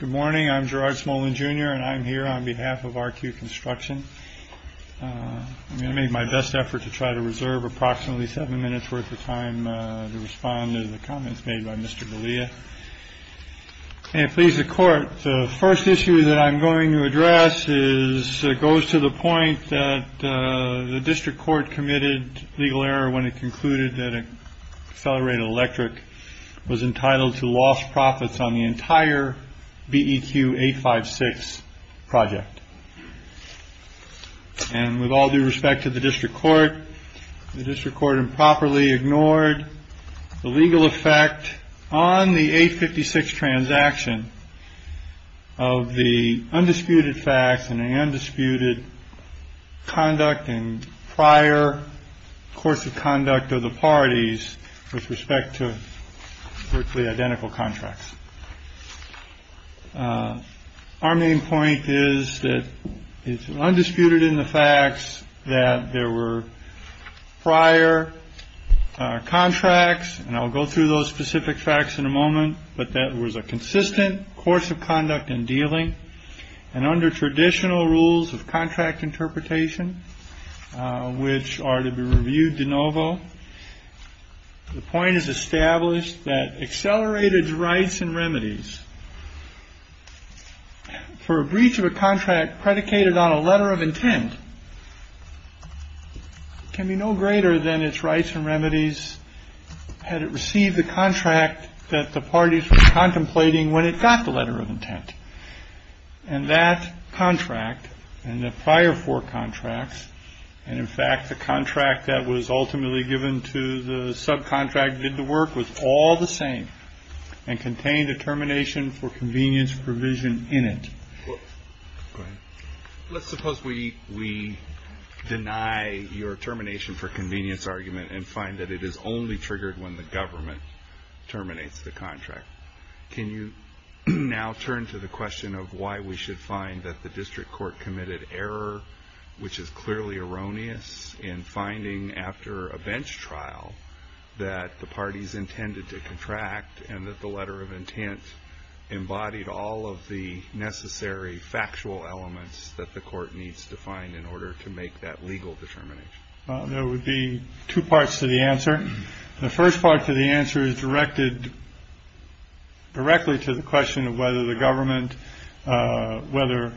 Good morning, I'm Gerard Smolin, Jr., and I'm here on behalf of RQ Construction. I'm going to make my best effort to try to reserve approximately seven minutes worth of time to respond to the comments made by Mr. Galea. May it please the Court, the first issue that I'm going to address goes to the point that the District Court committed legal error when it concluded that Accelerated Electric was entitled to lost profits on the entire BEQ 856 project. And with all due respect to the District Court, the District Court improperly ignored the legal effect on the 856 transaction of the undisputed facts and the undisputed conduct and prior course of conduct of the parties with respect to virtually identical contracts. Our main point is that it's undisputed in the facts that there were prior contracts. And I'll go through those specific facts in a moment. But that was a consistent course of conduct and dealing. And under traditional rules of contract interpretation, which are to be reviewed de novo, the point is established that accelerated rights and remedies for a breach of a contract predicated on a letter of intent can be no greater than its rights and remedies had it received the contract that the parties were contemplating when it got the letter of intent. And that contract and the prior four contracts, and in fact the contract that was ultimately given to the subcontract did the work, was all the same and contained a termination for convenience provision in it. Let's suppose we deny your termination for convenience argument and find that it is only triggered when the government terminates the contract. Can you now turn to the question of why we should find that the District Court committed error, which is clearly erroneous in finding after a bench trial that the parties intended to contract and that the letter of intent embodied all of the necessary factual elements that the court needs to find in order to make that legal determination? There would be two parts to the answer. The first part to the answer is directed directly to the question of whether the government, whether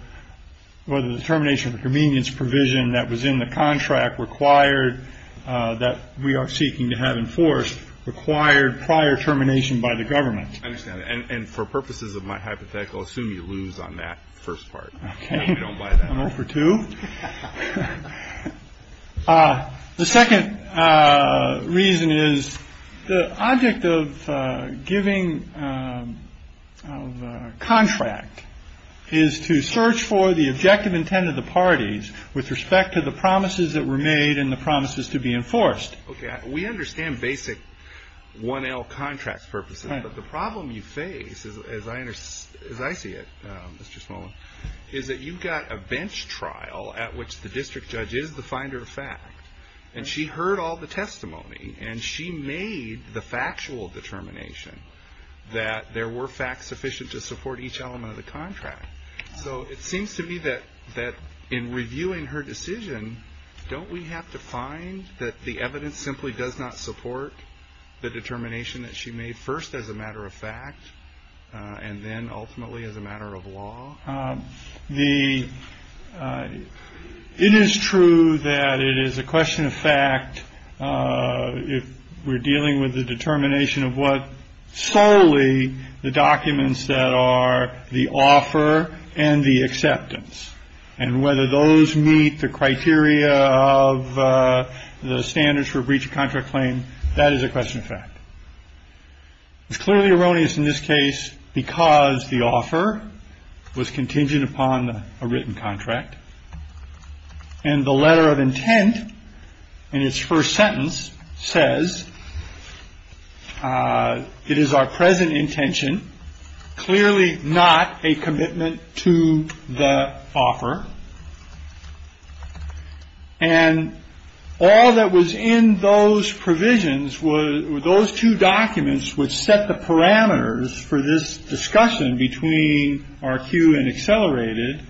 the termination for convenience provision that was in the contract required that we are seeking to have enforced, required prior termination by the government. I understand. And for purposes of my hypothetical, I assume you lose on that first part. Okay. I don't buy that. I'm up for two. The second reason is the object of giving of contract is to search for the objective intent of the parties with respect to the promises that were made and the promises to be enforced. Okay. We understand basic 1L contract purposes, but the problem you face, as I see it, Mr. Smolin, is that you've got a bench trial at which the district judge is the finder of fact, and she heard all the testimony, and she made the factual determination that there were facts sufficient to support each element of the contract. So it seems to me that in reviewing her decision, don't we have to find that the evidence simply does not support the determination that she made first as a matter of fact and then ultimately as a matter of law? It is true that it is a question of fact if we're dealing with the determination of what solely the documents that are the offer and the acceptance and whether those meet the criteria of the standards for breach of contract claim. That is a question of fact. It's clearly erroneous in this case because the offer was contingent upon a written contract. And the letter of intent in its first sentence says. It is our present intention, clearly not a commitment to the offer. And all that was in those provisions were those two documents which set the parameters for this discussion between our queue and accelerated.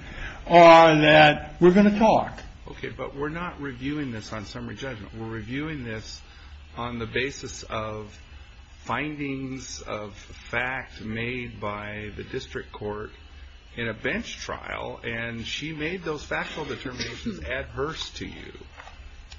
Or that we're going to talk. Okay, but we're not reviewing this on summary judgment. We're reviewing this on the basis of findings of fact made by the district court in a bench trial, and she made those factual determinations adverse to you.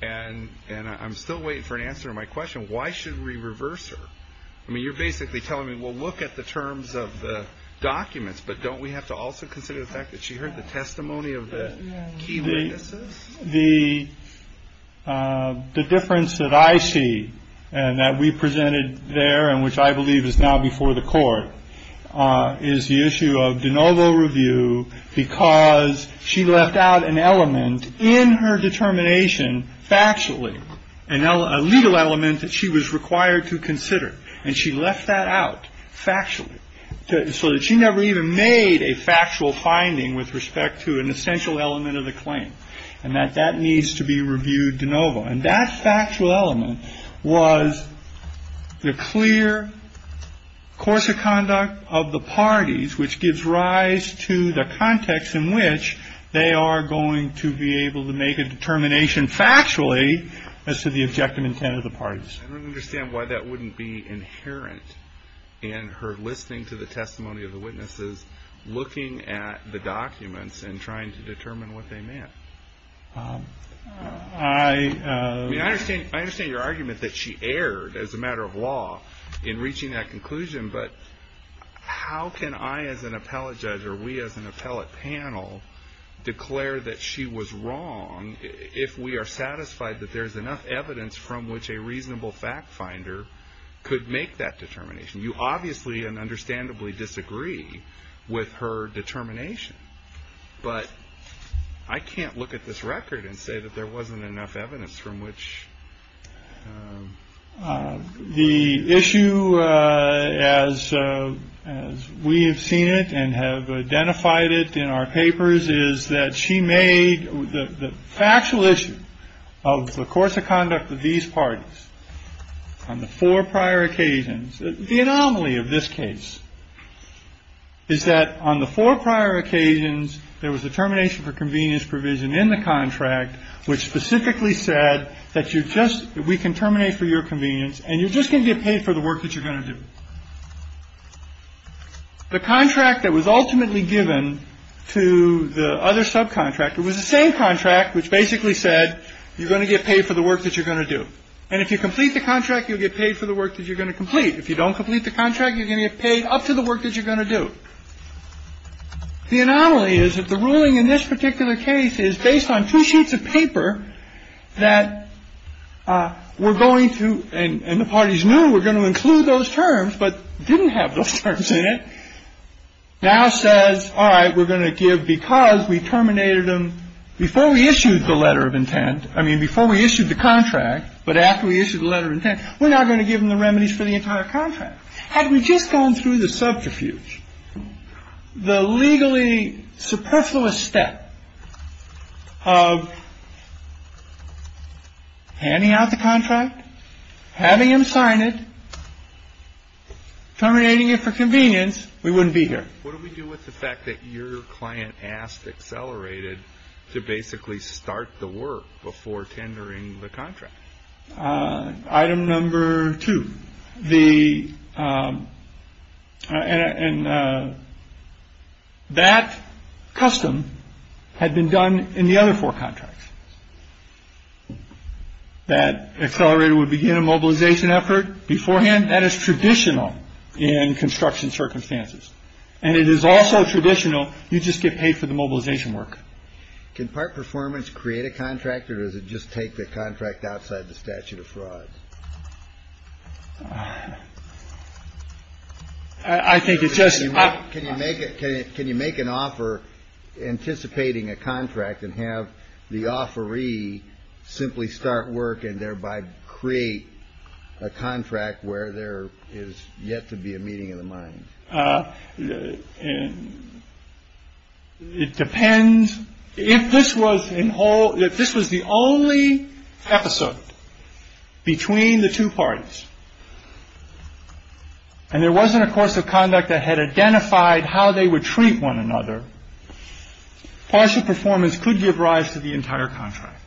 And I'm still waiting for an answer to my question. Why should we reverse her? I mean, you're basically telling me we'll look at the terms of the documents, but don't we have to also consider the fact that she heard the testimony of the key witnesses? The difference that I see and that we presented there, and which I believe is now before the court is the issue of de novo review, because she left out an element in her determination, factually, and now a legal element that she was required to consider. And she left that out factually so that she never even made a factual finding with respect to an essential element of the claim, and that that needs to be reviewed de novo. And that factual element was the clear course of conduct of the parties, which gives rise to the context in which they are going to be able to make a determination factually as to the objective intent of the parties. I don't understand why that wouldn't be inherent in her listening to the testimony of the witnesses, looking at the documents, and trying to determine what they meant. I understand your argument that she erred as a matter of law in reaching that conclusion, but how can I as an appellate judge or we as an appellate panel declare that she was wrong if we are satisfied that there's enough evidence from which a reasonable fact finder could make that determination? You obviously and understandably disagree with her determination, but I can't look at this record and say that there wasn't enough evidence from which. The issue, as we have seen it and have identified it in our papers, is that she made the factual issue of the course of conduct of these parties on the four prior occasions. The anomaly of this case is that on the four prior occasions, there was a termination for convenience provision in the contract, which specifically said that you just we can terminate for your convenience and you're just going to get paid for the work that you're going to do. The contract that was ultimately given to the other subcontractor was the same contract, which basically said you're going to get paid for the work that you're going to do. And if you complete the contract, you'll get paid for the work that you're going to complete. If you don't complete the contract, you're going to get paid up to the work that you're going to do. The anomaly is that the ruling in this particular case is based on two sheets of paper that we're going to, and the parties knew we're going to include those terms, but didn't have those terms in it. Now says, all right, we're going to give because we terminated them before we issued the letter of intent. I mean, before we issued the contract. But after we issued a letter of intent, we're not going to give them the remedies for the entire contract. Had we just gone through the subterfuge, the legally superfluous step of handing out the contract, having him sign it, terminating it for convenience, we wouldn't be here. What do we do with the fact that your client asked Accelerated to basically start the work before tendering the contract? Item number two, the. And that custom had been done in the other four contracts. That Accelerated would begin a mobilization effort beforehand. That is traditional in construction circumstances. And it is also traditional. You just get paid for the mobilization work. Can part performance create a contract or does it just take the contract outside the statute of fraud? I think it just can you make it. Can you make an offer anticipating a contract and have the offeree simply start work and thereby create a contract where there is yet to be a meeting in the mind? And it depends if this was in whole, if this was the only episode between the two parties. And there wasn't a course of conduct that had identified how they would treat one another. Partial performance could give rise to the entire contract.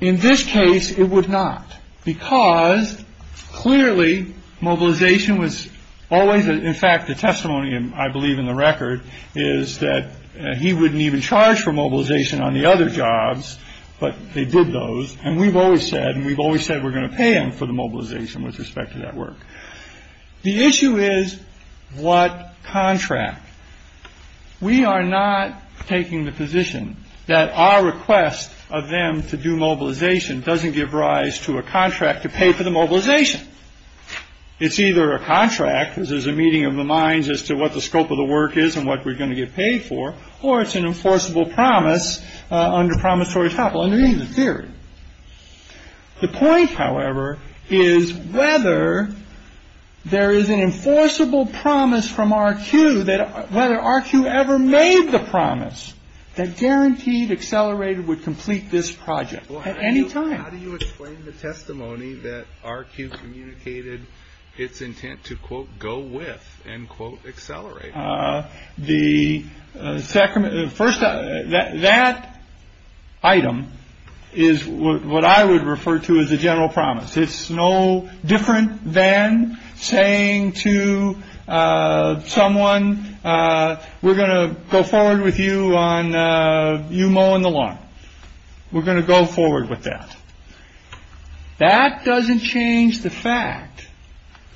In this case, it would not. Because clearly mobilization was always, in fact, the testimony. And I believe in the record is that he wouldn't even charge for mobilization on the other jobs. But they did those. And we've always said and we've always said we're going to pay him for the mobilization with respect to that work. The issue is what contract. We are not taking the position that our request of them to do mobilization doesn't give rise to a contract to pay for the mobilization. It's either a contract. This is a meeting of the minds as to what the scope of the work is and what we're going to get paid for. Or it's an enforceable promise under promissory top. Under the theory. The point, however, is whether there is an enforceable promise from RQ that whether RQ ever made the promise that guaranteed accelerated would complete this project at any time. How do you explain the testimony that RQ communicated its intent to, quote, go with and, quote, accelerate? The second first that that item is what I would refer to as a general promise. It's no different than saying to someone, we're going to go forward with you on you mowing the lawn. We're going to go forward with that. That doesn't change the fact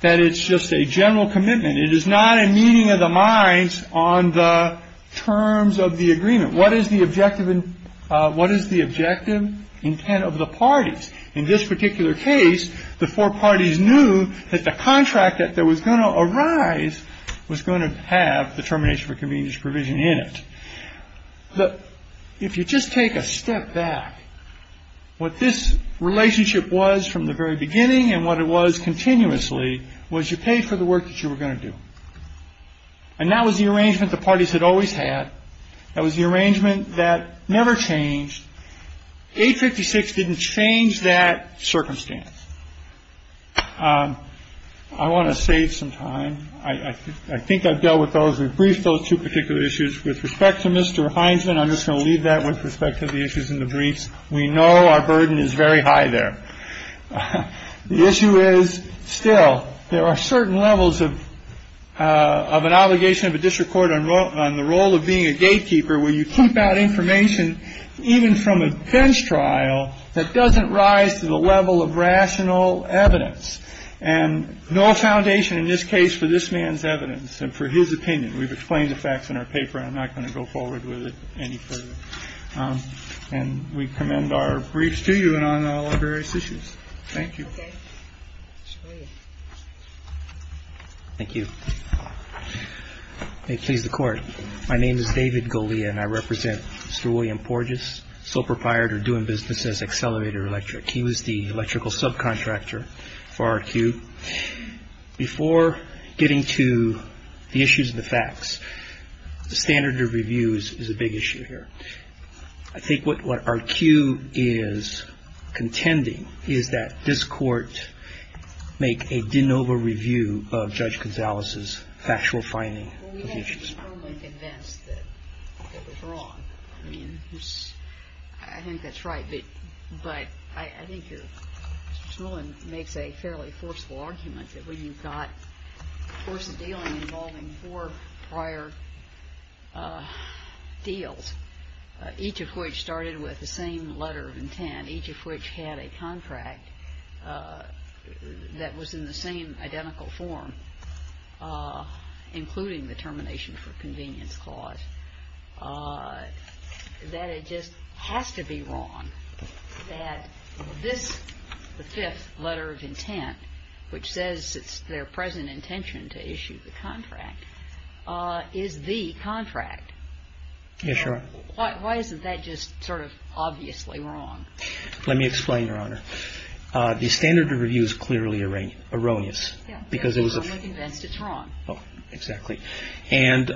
that it's just a general commitment. It is not a meeting of the minds on the terms of the agreement. What is the objective? What is the objective intent of the parties? In this particular case, the four parties knew that the contract that there was going to arise was going to have the termination for convenience provision in it. But if you just take a step back, what this relationship was from the very beginning and what it was continuously was you pay for the work that you were going to do. And that was the arrangement the parties had always had. That was the arrangement that never changed. Eight fifty six didn't change that circumstance. I want to save some time. I think I've dealt with those. We've briefed those two particular issues with respect to Mr. Hines. And I'm just going to leave that with respect to the issues in the briefs. We know our burden is very high there. The issue is still there are certain levels of of an obligation of a district court on the role of being a gatekeeper, where you keep out information even from a bench trial that doesn't rise to the level of rational evidence. And no foundation in this case for this man's evidence and for his opinion. We've explained the facts in our paper. I'm not going to go forward with it any further. And we commend our briefs to you and on various issues. Thank you. Thank you. They please the court. My name is David Goli and I represent Mr. William Porges, sole proprietor doing business as Accelerator Electric. He was the electrical subcontractor for our queue before getting to the issues of the facts. The standard of reviews is a big issue here. I think what our queue is contending is that this court make a de novo review of Judge Gonzalez's factual finding. Well, we have to be firmly convinced that it was wrong. I mean, I think that's right. But but I think your ruling makes a fairly forceful argument that when you've got a force of dealing involving four prior deals, each of which started with the same letter of intent, each of which had a contract that was in the same identical form, including the termination for convenience clause, that it just has to be wrong that this the fifth letter of intent, which says it's their present intention to issue the contract, is the contract. Yes, sure. Why isn't that just sort of obviously wrong? Let me explain, Your Honor. The standard of review is clearly erroneous because it was wrong. Oh, exactly. And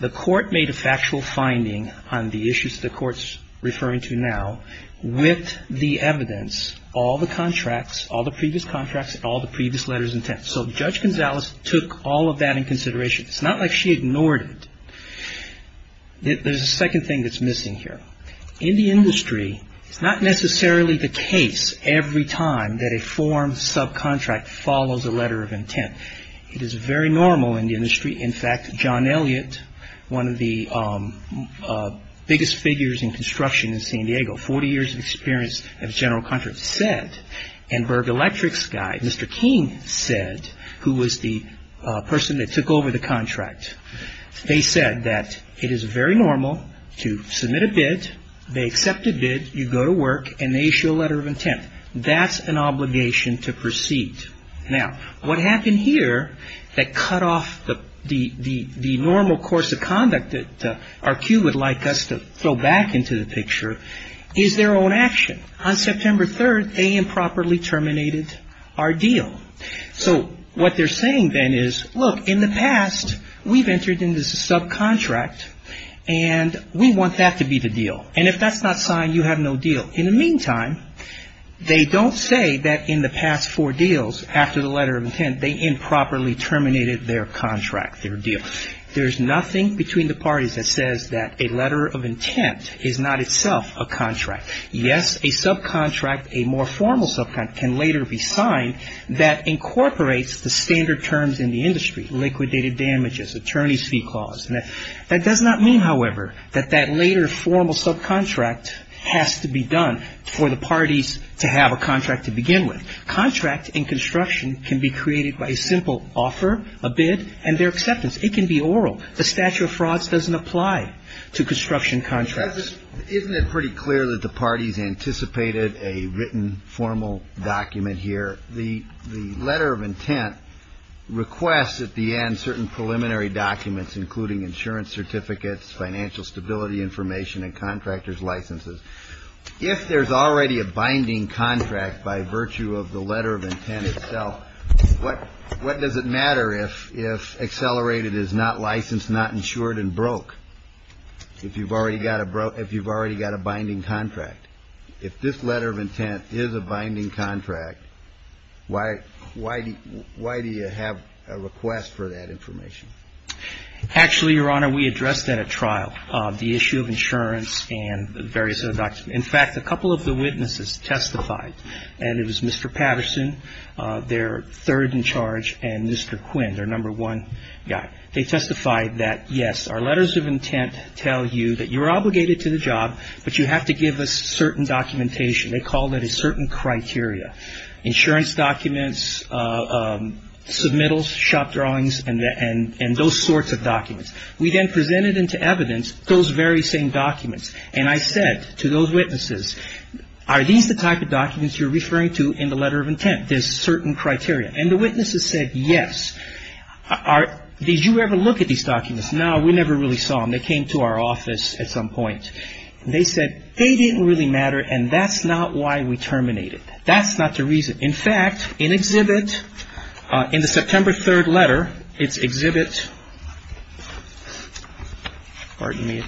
the court made a factual finding on the issues the court's referring to now with the evidence, all the contracts, all the previous contracts, all the previous letters of intent. So Judge Gonzalez took all of that in consideration. It's not like she ignored it. There's a second thing that's missing here. In the industry, it's not necessarily the case every time that a form subcontract follows a letter of intent. It is very normal in the industry. In fact, John Elliott, one of the biggest figures in construction in San Diego, 40 years of experience of general contracts, said, and Berg Electric's guy, Mr. King said, who was the person that took over the contract. They said that it is very normal to submit a bid. They accept a bid. You go to work and they issue a letter of intent. That's an obligation to proceed. Now, what happened here that cut off the normal course of conduct that RQ would like us to throw back into the picture is their own action. On September 3rd, they improperly terminated our deal. So what they're saying then is, look, in the past, we've entered in this subcontract and we want that to be the deal. And if that's not signed, you have no deal. In the meantime, they don't say that in the past four deals, after the letter of intent, they improperly terminated their contract, their deal. There's nothing between the parties that says that a letter of intent is not itself a contract. Yes, a subcontract, a more formal subcontract, can later be signed that incorporates the standard terms in the industry, liquidated damages, attorney's fee clause. That does not mean, however, that that later formal subcontract has to be done for the parties to have a contract to begin with. Contract in construction can be created by a simple offer, a bid, and their acceptance. It can be oral. The statute of frauds doesn't apply to construction contracts. Isn't it pretty clear that the parties anticipated a written formal document here? The the letter of intent requests at the end certain preliminary documents, including insurance certificates, financial stability information and contractors licenses. If there's already a binding contract by virtue of the letter of intent itself, what what does it matter if if accelerated is not licensed, not insured and broke? If you've already got a broke, if you've already got a binding contract, if this letter of intent is a binding contract. Why why why do you have a request for that information? Actually, Your Honor, we addressed that at trial, the issue of insurance and various other documents. In fact, a couple of the witnesses testified and it was Mr. Patterson, their third in charge, and Mr. Quinn, their number one guy. They testified that, yes, our letters of intent tell you that you're obligated to the job, but you have to give us certain documentation. They called it a certain criteria. Insurance documents, submittals, shop drawings and and and those sorts of documents. We then presented into evidence those very same documents. And I said to those witnesses, are these the type of documents you're referring to in the letter of intent? There's certain criteria. And the witnesses said, yes, are these you ever look at these documents? Now, we never really saw them. They came to our office at some point and they said they didn't really matter. And that's not why we terminate it. That's not the reason. In fact, in exhibit in the September 3rd letter, it's exhibit. Pardon me.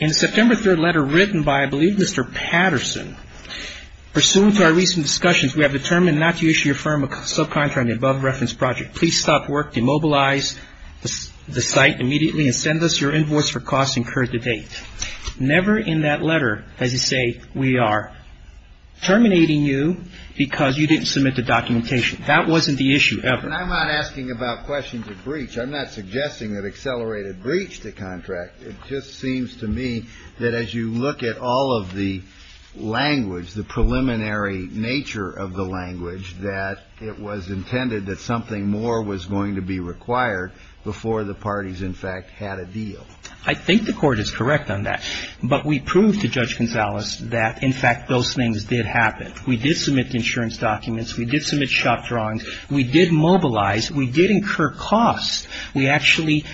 In September 3rd letter written by, I believe, Mr. Patterson, pursuant to our recent discussions, we have determined not to issue your firm a subcontract above reference project. Please stop work, demobilize the site immediately and send us your invoice for costs incurred to date. Never in that letter, as you say, we are terminating you because you didn't submit the documentation. That wasn't the issue ever. And I'm not asking about questions of breach. I'm not suggesting that accelerated breach to contract. It just seems to me that as you look at all of the language, the preliminary nature of the language, that it was intended that something more was going to be required before the parties, in fact, had a deal. I think the court is correct on that. But we proved to Judge Gonzalez that, in fact, those things did happen. We did submit insurance documents. We did submit shop drawings. We did mobilize. We did incur costs. We actually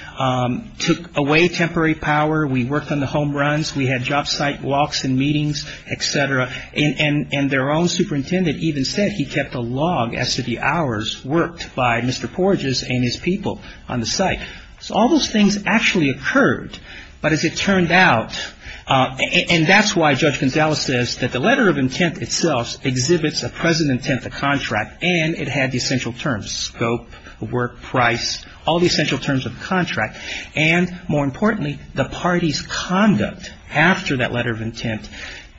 took away temporary power. We worked on the home runs. We had job site walks and meetings, et cetera. And their own superintendent even said he kept a log as to the hours worked by Mr. Porges and his people on the site. So all those things actually occurred. But as it turned out, and that's why Judge Gonzalez says that the letter of intent itself exhibits a present intent to contract, and it had the essential terms, scope, work, price, all the essential terms of the contract. And more importantly, the party's conduct after that letter of intent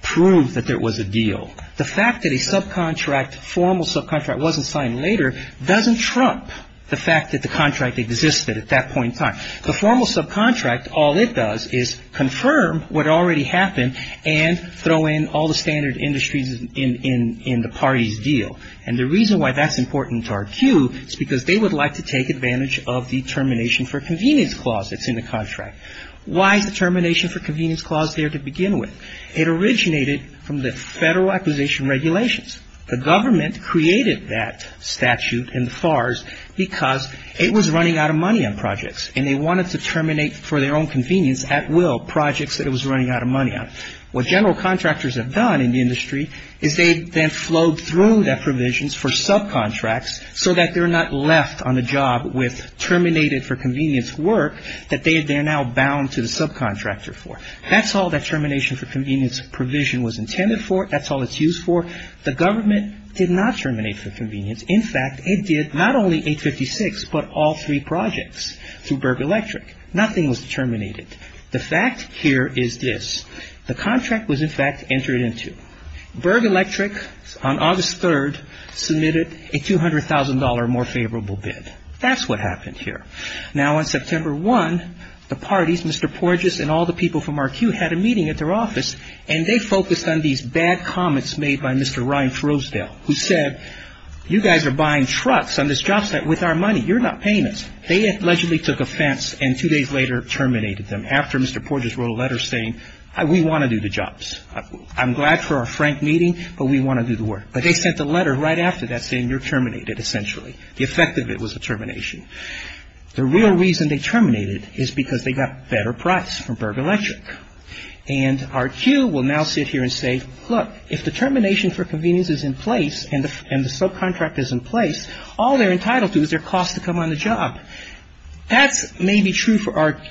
proved that there was a deal. The fact that a subcontract, formal subcontract, wasn't signed later doesn't trump the fact that the contract existed. At that point in time, the formal subcontract, all it does is confirm what already happened and throw in all the standard industries in the party's deal. And the reason why that's important to our cue is because they would like to take advantage of the termination for convenience clause that's in the contract. Why is the termination for convenience clause there to begin with? It originated from the Federal Acquisition Regulations. The government created that statute in the FARS because it was running out of money on projects, and they wanted to terminate for their own convenience at will projects that it was running out of money on. What general contractors have done in the industry is they then flowed through that provisions for subcontracts so that they're not left on the job with terminated for convenience work that they are now bound to the subcontractor for. That's all that termination for convenience provision was intended for. That's all it's used for. The government did not terminate for convenience. In fact, it did not only 856 but all three projects through Berg Electric. Nothing was terminated. The fact here is this. The contract was, in fact, entered into. Berg Electric, on August 3rd, submitted a $200,000 more favorable bid. That's what happened here. Now, on September 1, the parties, Mr. Porges and all the people from our queue, had a meeting at their office, and they focused on these bad comments made by Mr. Ryan Frosdale, who said, you guys are buying trucks on this job site with our money. You're not paying us. They allegedly took offense and two days later terminated them after Mr. Porges wrote a letter saying, we want to do the jobs. I'm glad for our frank meeting, but we want to do the work. But they sent a letter right after that saying, you're terminated, essentially. The effect of it was a termination. The real reason they terminated is because they got better price from Berg Electric. And our queue will now sit here and say, look, if the termination for convenience is in place and the subcontract is in place, all they're entitled to is their cost to come on the job. That's maybe true for our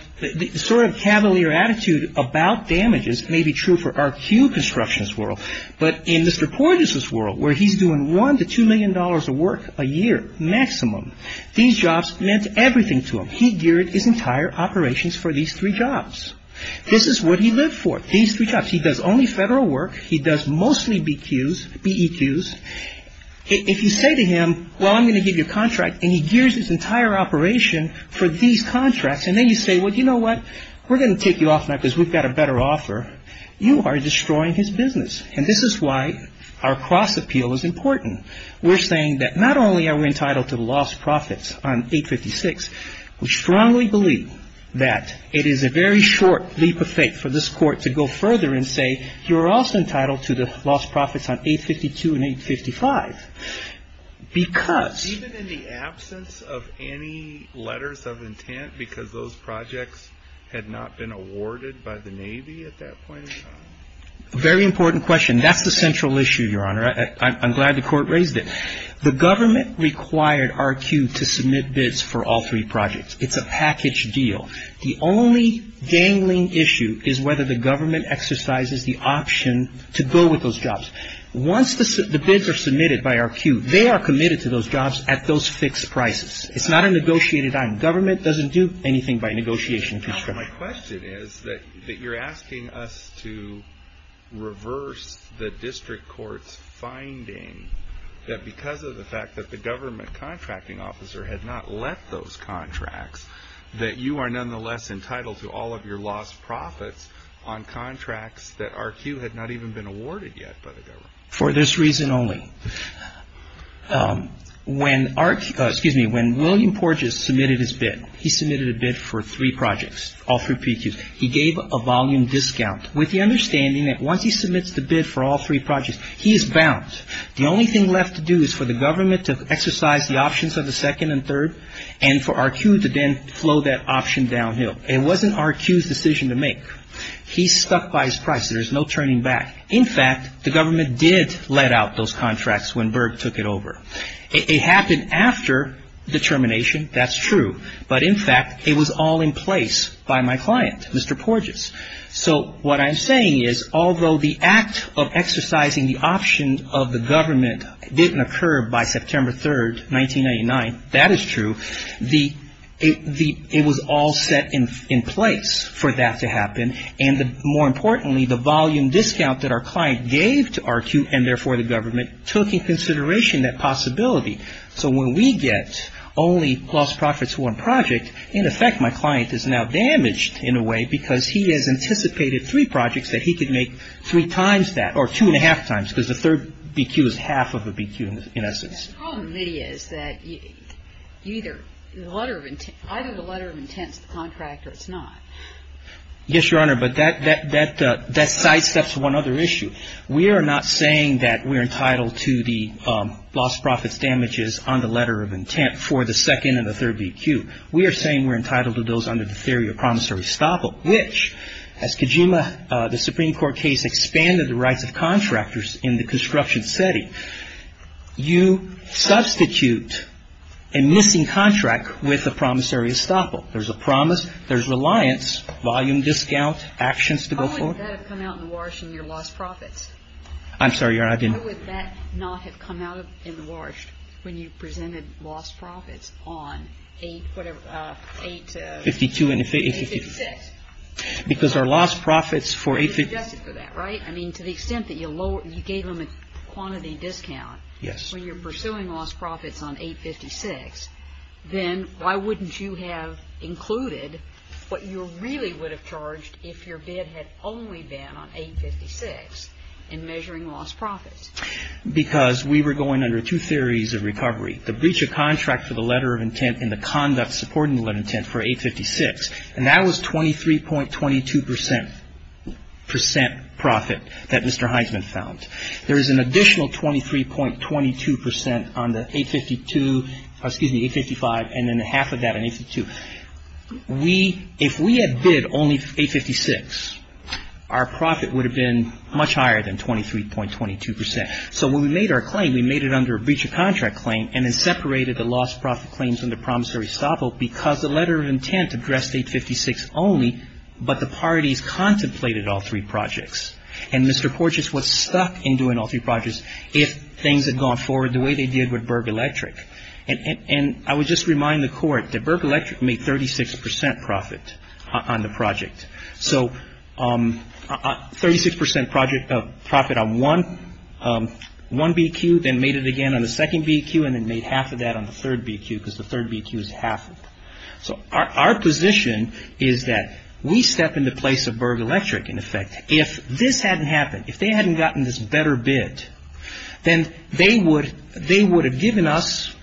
sort of cavalier attitude about damages may be true for our queue constructions world. But in Mr. Porges' world, where he's doing one to two million dollars of work a year maximum, these jobs meant everything to him. He geared his entire operations for these three jobs. This is what he lived for. These three jobs. He does only federal work. He does mostly BQs, BEQs. If you say to him, well, I'm going to give you a contract, and he gears his entire operation for these contracts. And then you say, well, you know what? We're going to take you off now because we've got a better offer. You are destroying his business. And this is why our cross appeal is important. We're saying that not only are we entitled to the lost profits on 856, we strongly believe that it is a very short leap of faith for this court to go further and say, you're also entitled to the lost profits on 852 and 855 because. Even in the absence of any letters of intent, because those projects had not been awarded by the Navy at that point in time? Very important question. That's the central issue, Your Honor. I'm glad the court raised it. The government required RQ to submit bids for all three projects. It's a package deal. The only dangling issue is whether the government exercises the option to go with those jobs. Once the bids are submitted by RQ, they are committed to those jobs at those fixed prices. It's not a negotiated item. Government doesn't do anything by negotiation. My question is that you're asking us to reverse the district court's finding that because of the fact that the government contracting officer had not let those contracts, that you are nonetheless entitled to all of your lost profits on contracts that RQ had not even been awarded yet by the government. For this reason only. When RQ, excuse me, when William Porges submitted his bid, he submitted a bid for three projects, all three PQs. He gave a volume discount with the understanding that once he submits the bid for all three projects, he is bound. The only thing left to do is for the government to exercise the options of the second and third and for RQ to then flow that option downhill. It wasn't RQ's decision to make. He stuck by his price. There's no turning back. In fact, the government did let out those contracts when Berg took it over. It happened after the termination, that's true. But in fact, it was all in place by my client, Mr. Porges. So what I'm saying is although the act of exercising the option of the government didn't occur by September 3rd, 1999, that is true, it was all set in place for that to happen. And more importantly, the volume discount that our client gave to RQ, and therefore the government, took in consideration that possibility. So when we get only lost profits to one project, in effect my client is now damaged in a way because he has anticipated three projects that he could make three times that or two and a half times because the third BQ is half of a BQ in essence. The problem, Lydia, is that either the letter of intent is the contract or it's not. Yes, Your Honor, but that sidesteps one other issue. We are not saying that we're entitled to the lost profits damages on the letter of intent for the second and the third BQ. We are saying we're entitled to those under the theory of promissory estoppel, which as Kojima, the Supreme Court case, expanded the rights of contractors in the construction setting. You substitute a missing contract with a promissory estoppel. There's a promise, there's reliance, volume discount, actions to go forward. How would that have come out in the Warsh in your lost profits? I'm sorry, Your Honor, I didn't. How would that not have come out in the Warsh when you presented lost profits on 8, whatever, 8, uh, 856? Because our lost profits for 856. You're being judged for that, right? I mean, to the extent that you gave them a quantity discount when you're pursuing lost profits on 856, then why wouldn't you have included what you really would have charged if your bid had only been on 856 in measuring lost profits? Because we were going under two theories of recovery, the breach of contract for the letter of intent and the conduct supporting the letter of intent for 856. And that was 23.22 percent, percent profit that Mr. Heisman found. There is an additional 23.22 percent on the 852, excuse me, 855, and then half of that on 852. We, if we had bid only 856, our profit would have been much higher than 23.22 percent. So when we made our claim, we made it under a breach of contract claim and then separated the lost profit claims from the promissory stop vote because the letter of intent addressed 856 only, but the parties contemplated all three projects. And Mr. Porteous was stuck in doing all three projects if things had gone forward the way they did with Berg Electric. And I would just remind the Court that Berg Electric made 36 percent profit on the project. So 36 percent profit on one, one BQ, then made it again on the second BQ and then made half of that on the third BQ because the third BQ is half. So our position is that we step in the place of Berg Electric, in effect. If this hadn't happened, if they hadn't gotten this better bid, then they would, they would have given us,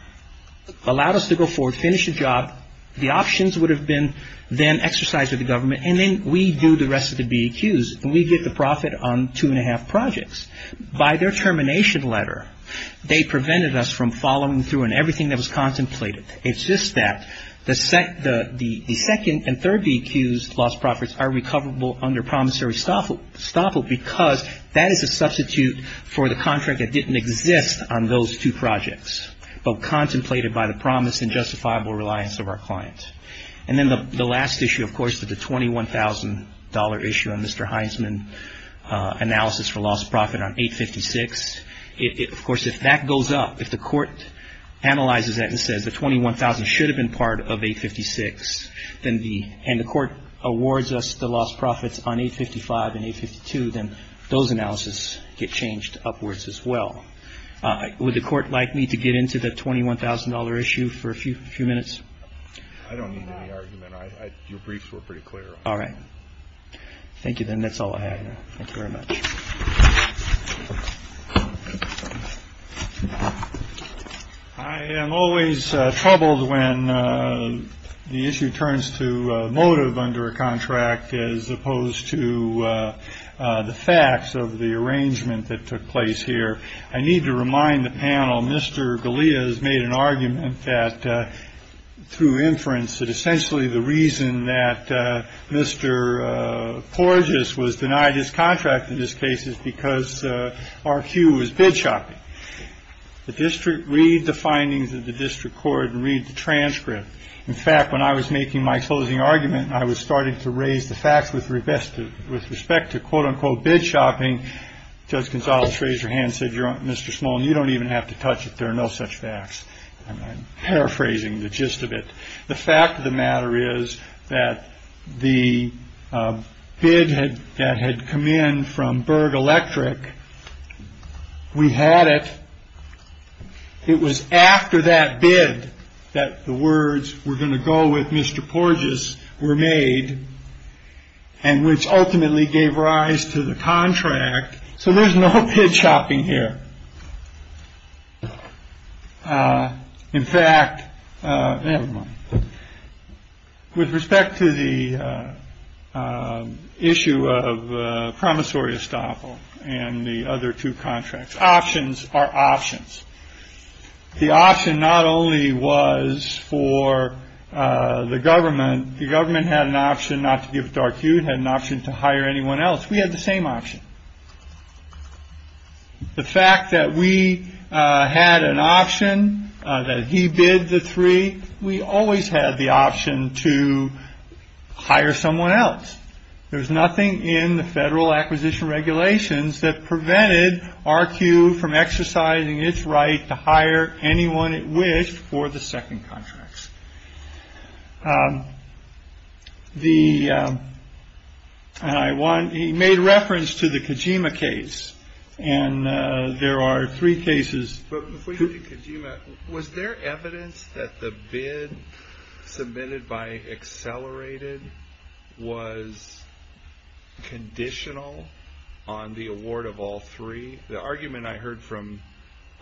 allowed us to go forward, finish the job. The options would have been then exercised by the government and then we do the rest of the BQs and we get the profit on two and a half projects. By their termination letter, they prevented us from following through on everything that was contemplated. It's just that the second and third BQs lost profits are recoverable under promissory stop vote because that is a substitute for the contract that didn't exist on those two projects. But contemplated by the promise and justifiable reliance of our client. And then the last issue, of course, that the $21,000 issue on Mr. Heisman analysis for lost profit on 856, of course, if that goes up, if the Court analyzes that and says the $21,000 should have been part of 856 and the Court awards us the lost profits on 855 and 852, then those analysis get changed upwards as well. Would the Court like me to get into the $21,000 issue for a few minutes? I don't need any argument. Your briefs were pretty clear. All right. Thank you. Then that's all I have. Thank you very much. I am always troubled when the issue turns to motive under a contract as opposed to the facts of the arrangement that took place here. I need to remind the panel. Mr. Galea has made an argument that through inference that essentially the reason that Mr. Porges was denied his contract in this case is because our cue was bid shopping. The district read the findings of the district court and read the transcript. In fact, when I was making my closing argument, I was starting to raise the facts with respect to with respect to, quote unquote, bid shopping. Judge Gonzales raised her hand, said, Mr. Smolin, you don't even have to touch it. There are no such facts. I'm paraphrasing the gist of it. The fact of the matter is that the bid that had come in from Berg Electric, we had it. It was after that bid that the words, we're going to go with Mr. Porges were made and which ultimately gave rise to the contract. So there's no shopping here. In fact, with respect to the issue of promissory estoppel and the other two contracts, options are options. The option not only was for the government, the government had an option not to give dark. You had an option to hire anyone else. We had the same option. The fact that we had an option that he bid the three, we always had the option to hire someone else. There's nothing in the federal acquisition regulations that prevented RQ from exercising its right to hire anyone it wished for the second contracts. The I want he made reference to the Kojima case and there are three cases. But before you get to Kojima, was there evidence that the bid submitted by Accelerated was conditional on the award of all three? The argument I heard from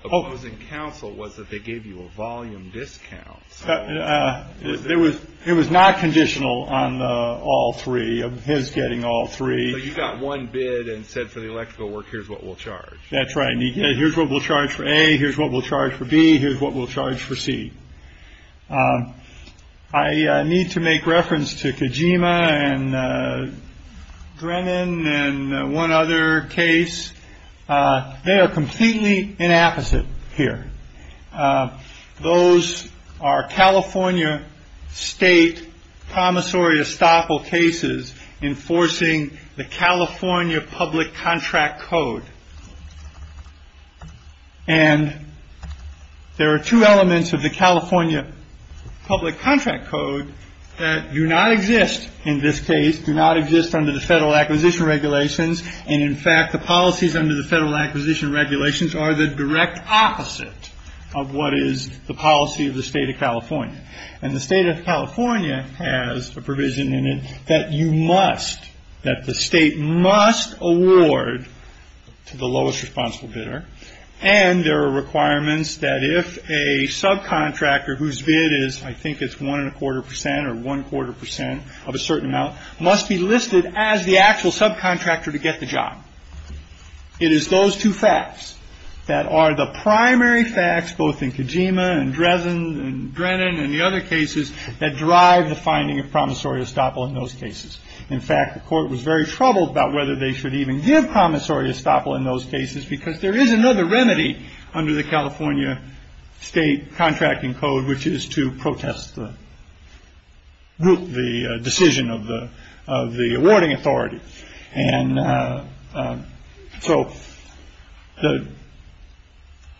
opposing counsel was that they gave you a volume discount. It was not conditional on all three of his getting all three. You got one bid and said for the electrical work, here's what we'll charge. That's right. Here's what we'll charge for a here's what we'll charge for B. Here's what we'll charge for C. I need to make reference to Kojima and Drennan and one other case. They are completely inapposite here. Those are California state promissory estoppel cases enforcing the California public contract code. And there are two elements of the California public contract code that do not exist in this case, do not exist under the federal acquisition regulations. And in fact, the policies under the federal acquisition regulations are the direct opposite of what is the policy of the state of California. And the state of California has a provision in it that you must that the state must award to the lowest responsible bidder. And there are requirements that if a subcontractor whose bid is I think it's one and a quarter percent or one quarter percent of a certain amount must be listed as the actual subcontractor to get the job. It is those two facts that are the primary facts, both in Kojima and Dresden and Drennan and the other cases that drive the finding of promissory estoppel in those cases. In fact, the court was very troubled about whether they should even give promissory estoppel in those cases because there is another remedy under the California state contracting code, which is to protest the. Decision of the of the awarding authority. And so the.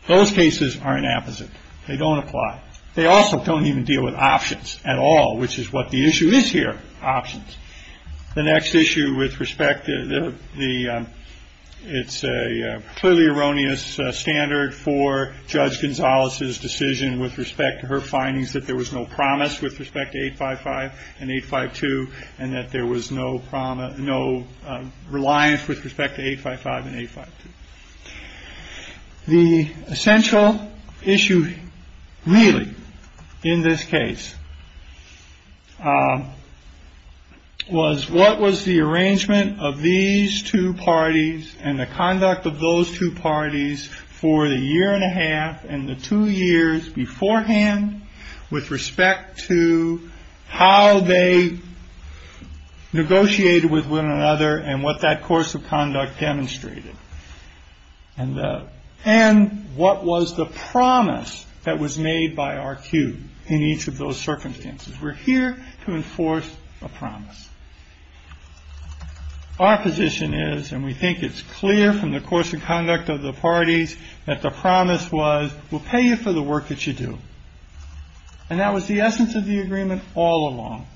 Those cases are an apposite. They don't apply. They also don't even deal with options at all, which is what the issue is here. Options. The next issue with respect to the it's a clearly erroneous standard for Judge Gonzalez's decision with respect to her findings that there was no promise with respect to 855 and 852 and that there was no promise, no reliance with respect to 855 and 852. The essential issue really in this case was what was the arrangement of these two parties and the conduct of those two parties for the year and a half and the two years beforehand. With respect to how they negotiated with one another and what that course of conduct demonstrated and and what was the promise that was made by our queue in each of those circumstances. We're here to enforce a promise. Our position is and we think it's clear from the course of conduct of the parties that the promise was will pay you for the work that you do. And that was the essence of the agreement all along.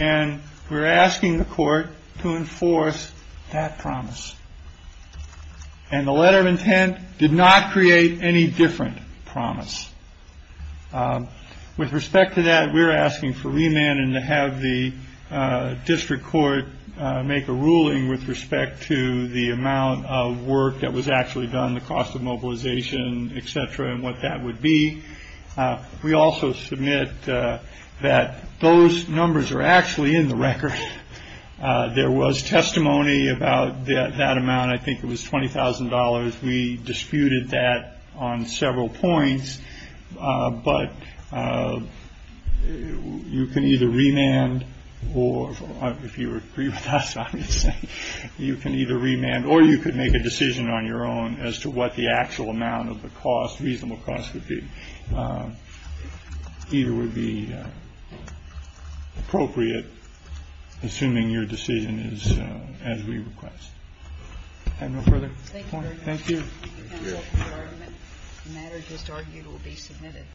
And we're asking the court to enforce that promise. And the letter of intent did not create any different promise. With respect to that, we're asking for remand and to have the district court make a ruling with respect to the amount of work that was actually done, the cost of mobilization, etc. And what that would be. We also submit that those numbers are actually in the record. There was testimony about that amount. I think it was twenty thousand dollars. We disputed that on several points. But you can either remand or if you agree with us, you can either remand or you could make a decision on your own as to what the actual amount of the cost. Reasonable cost would be either would be appropriate. Assuming your decision is as we request. I have no further point. Thank you. Matter just argued will be submitted.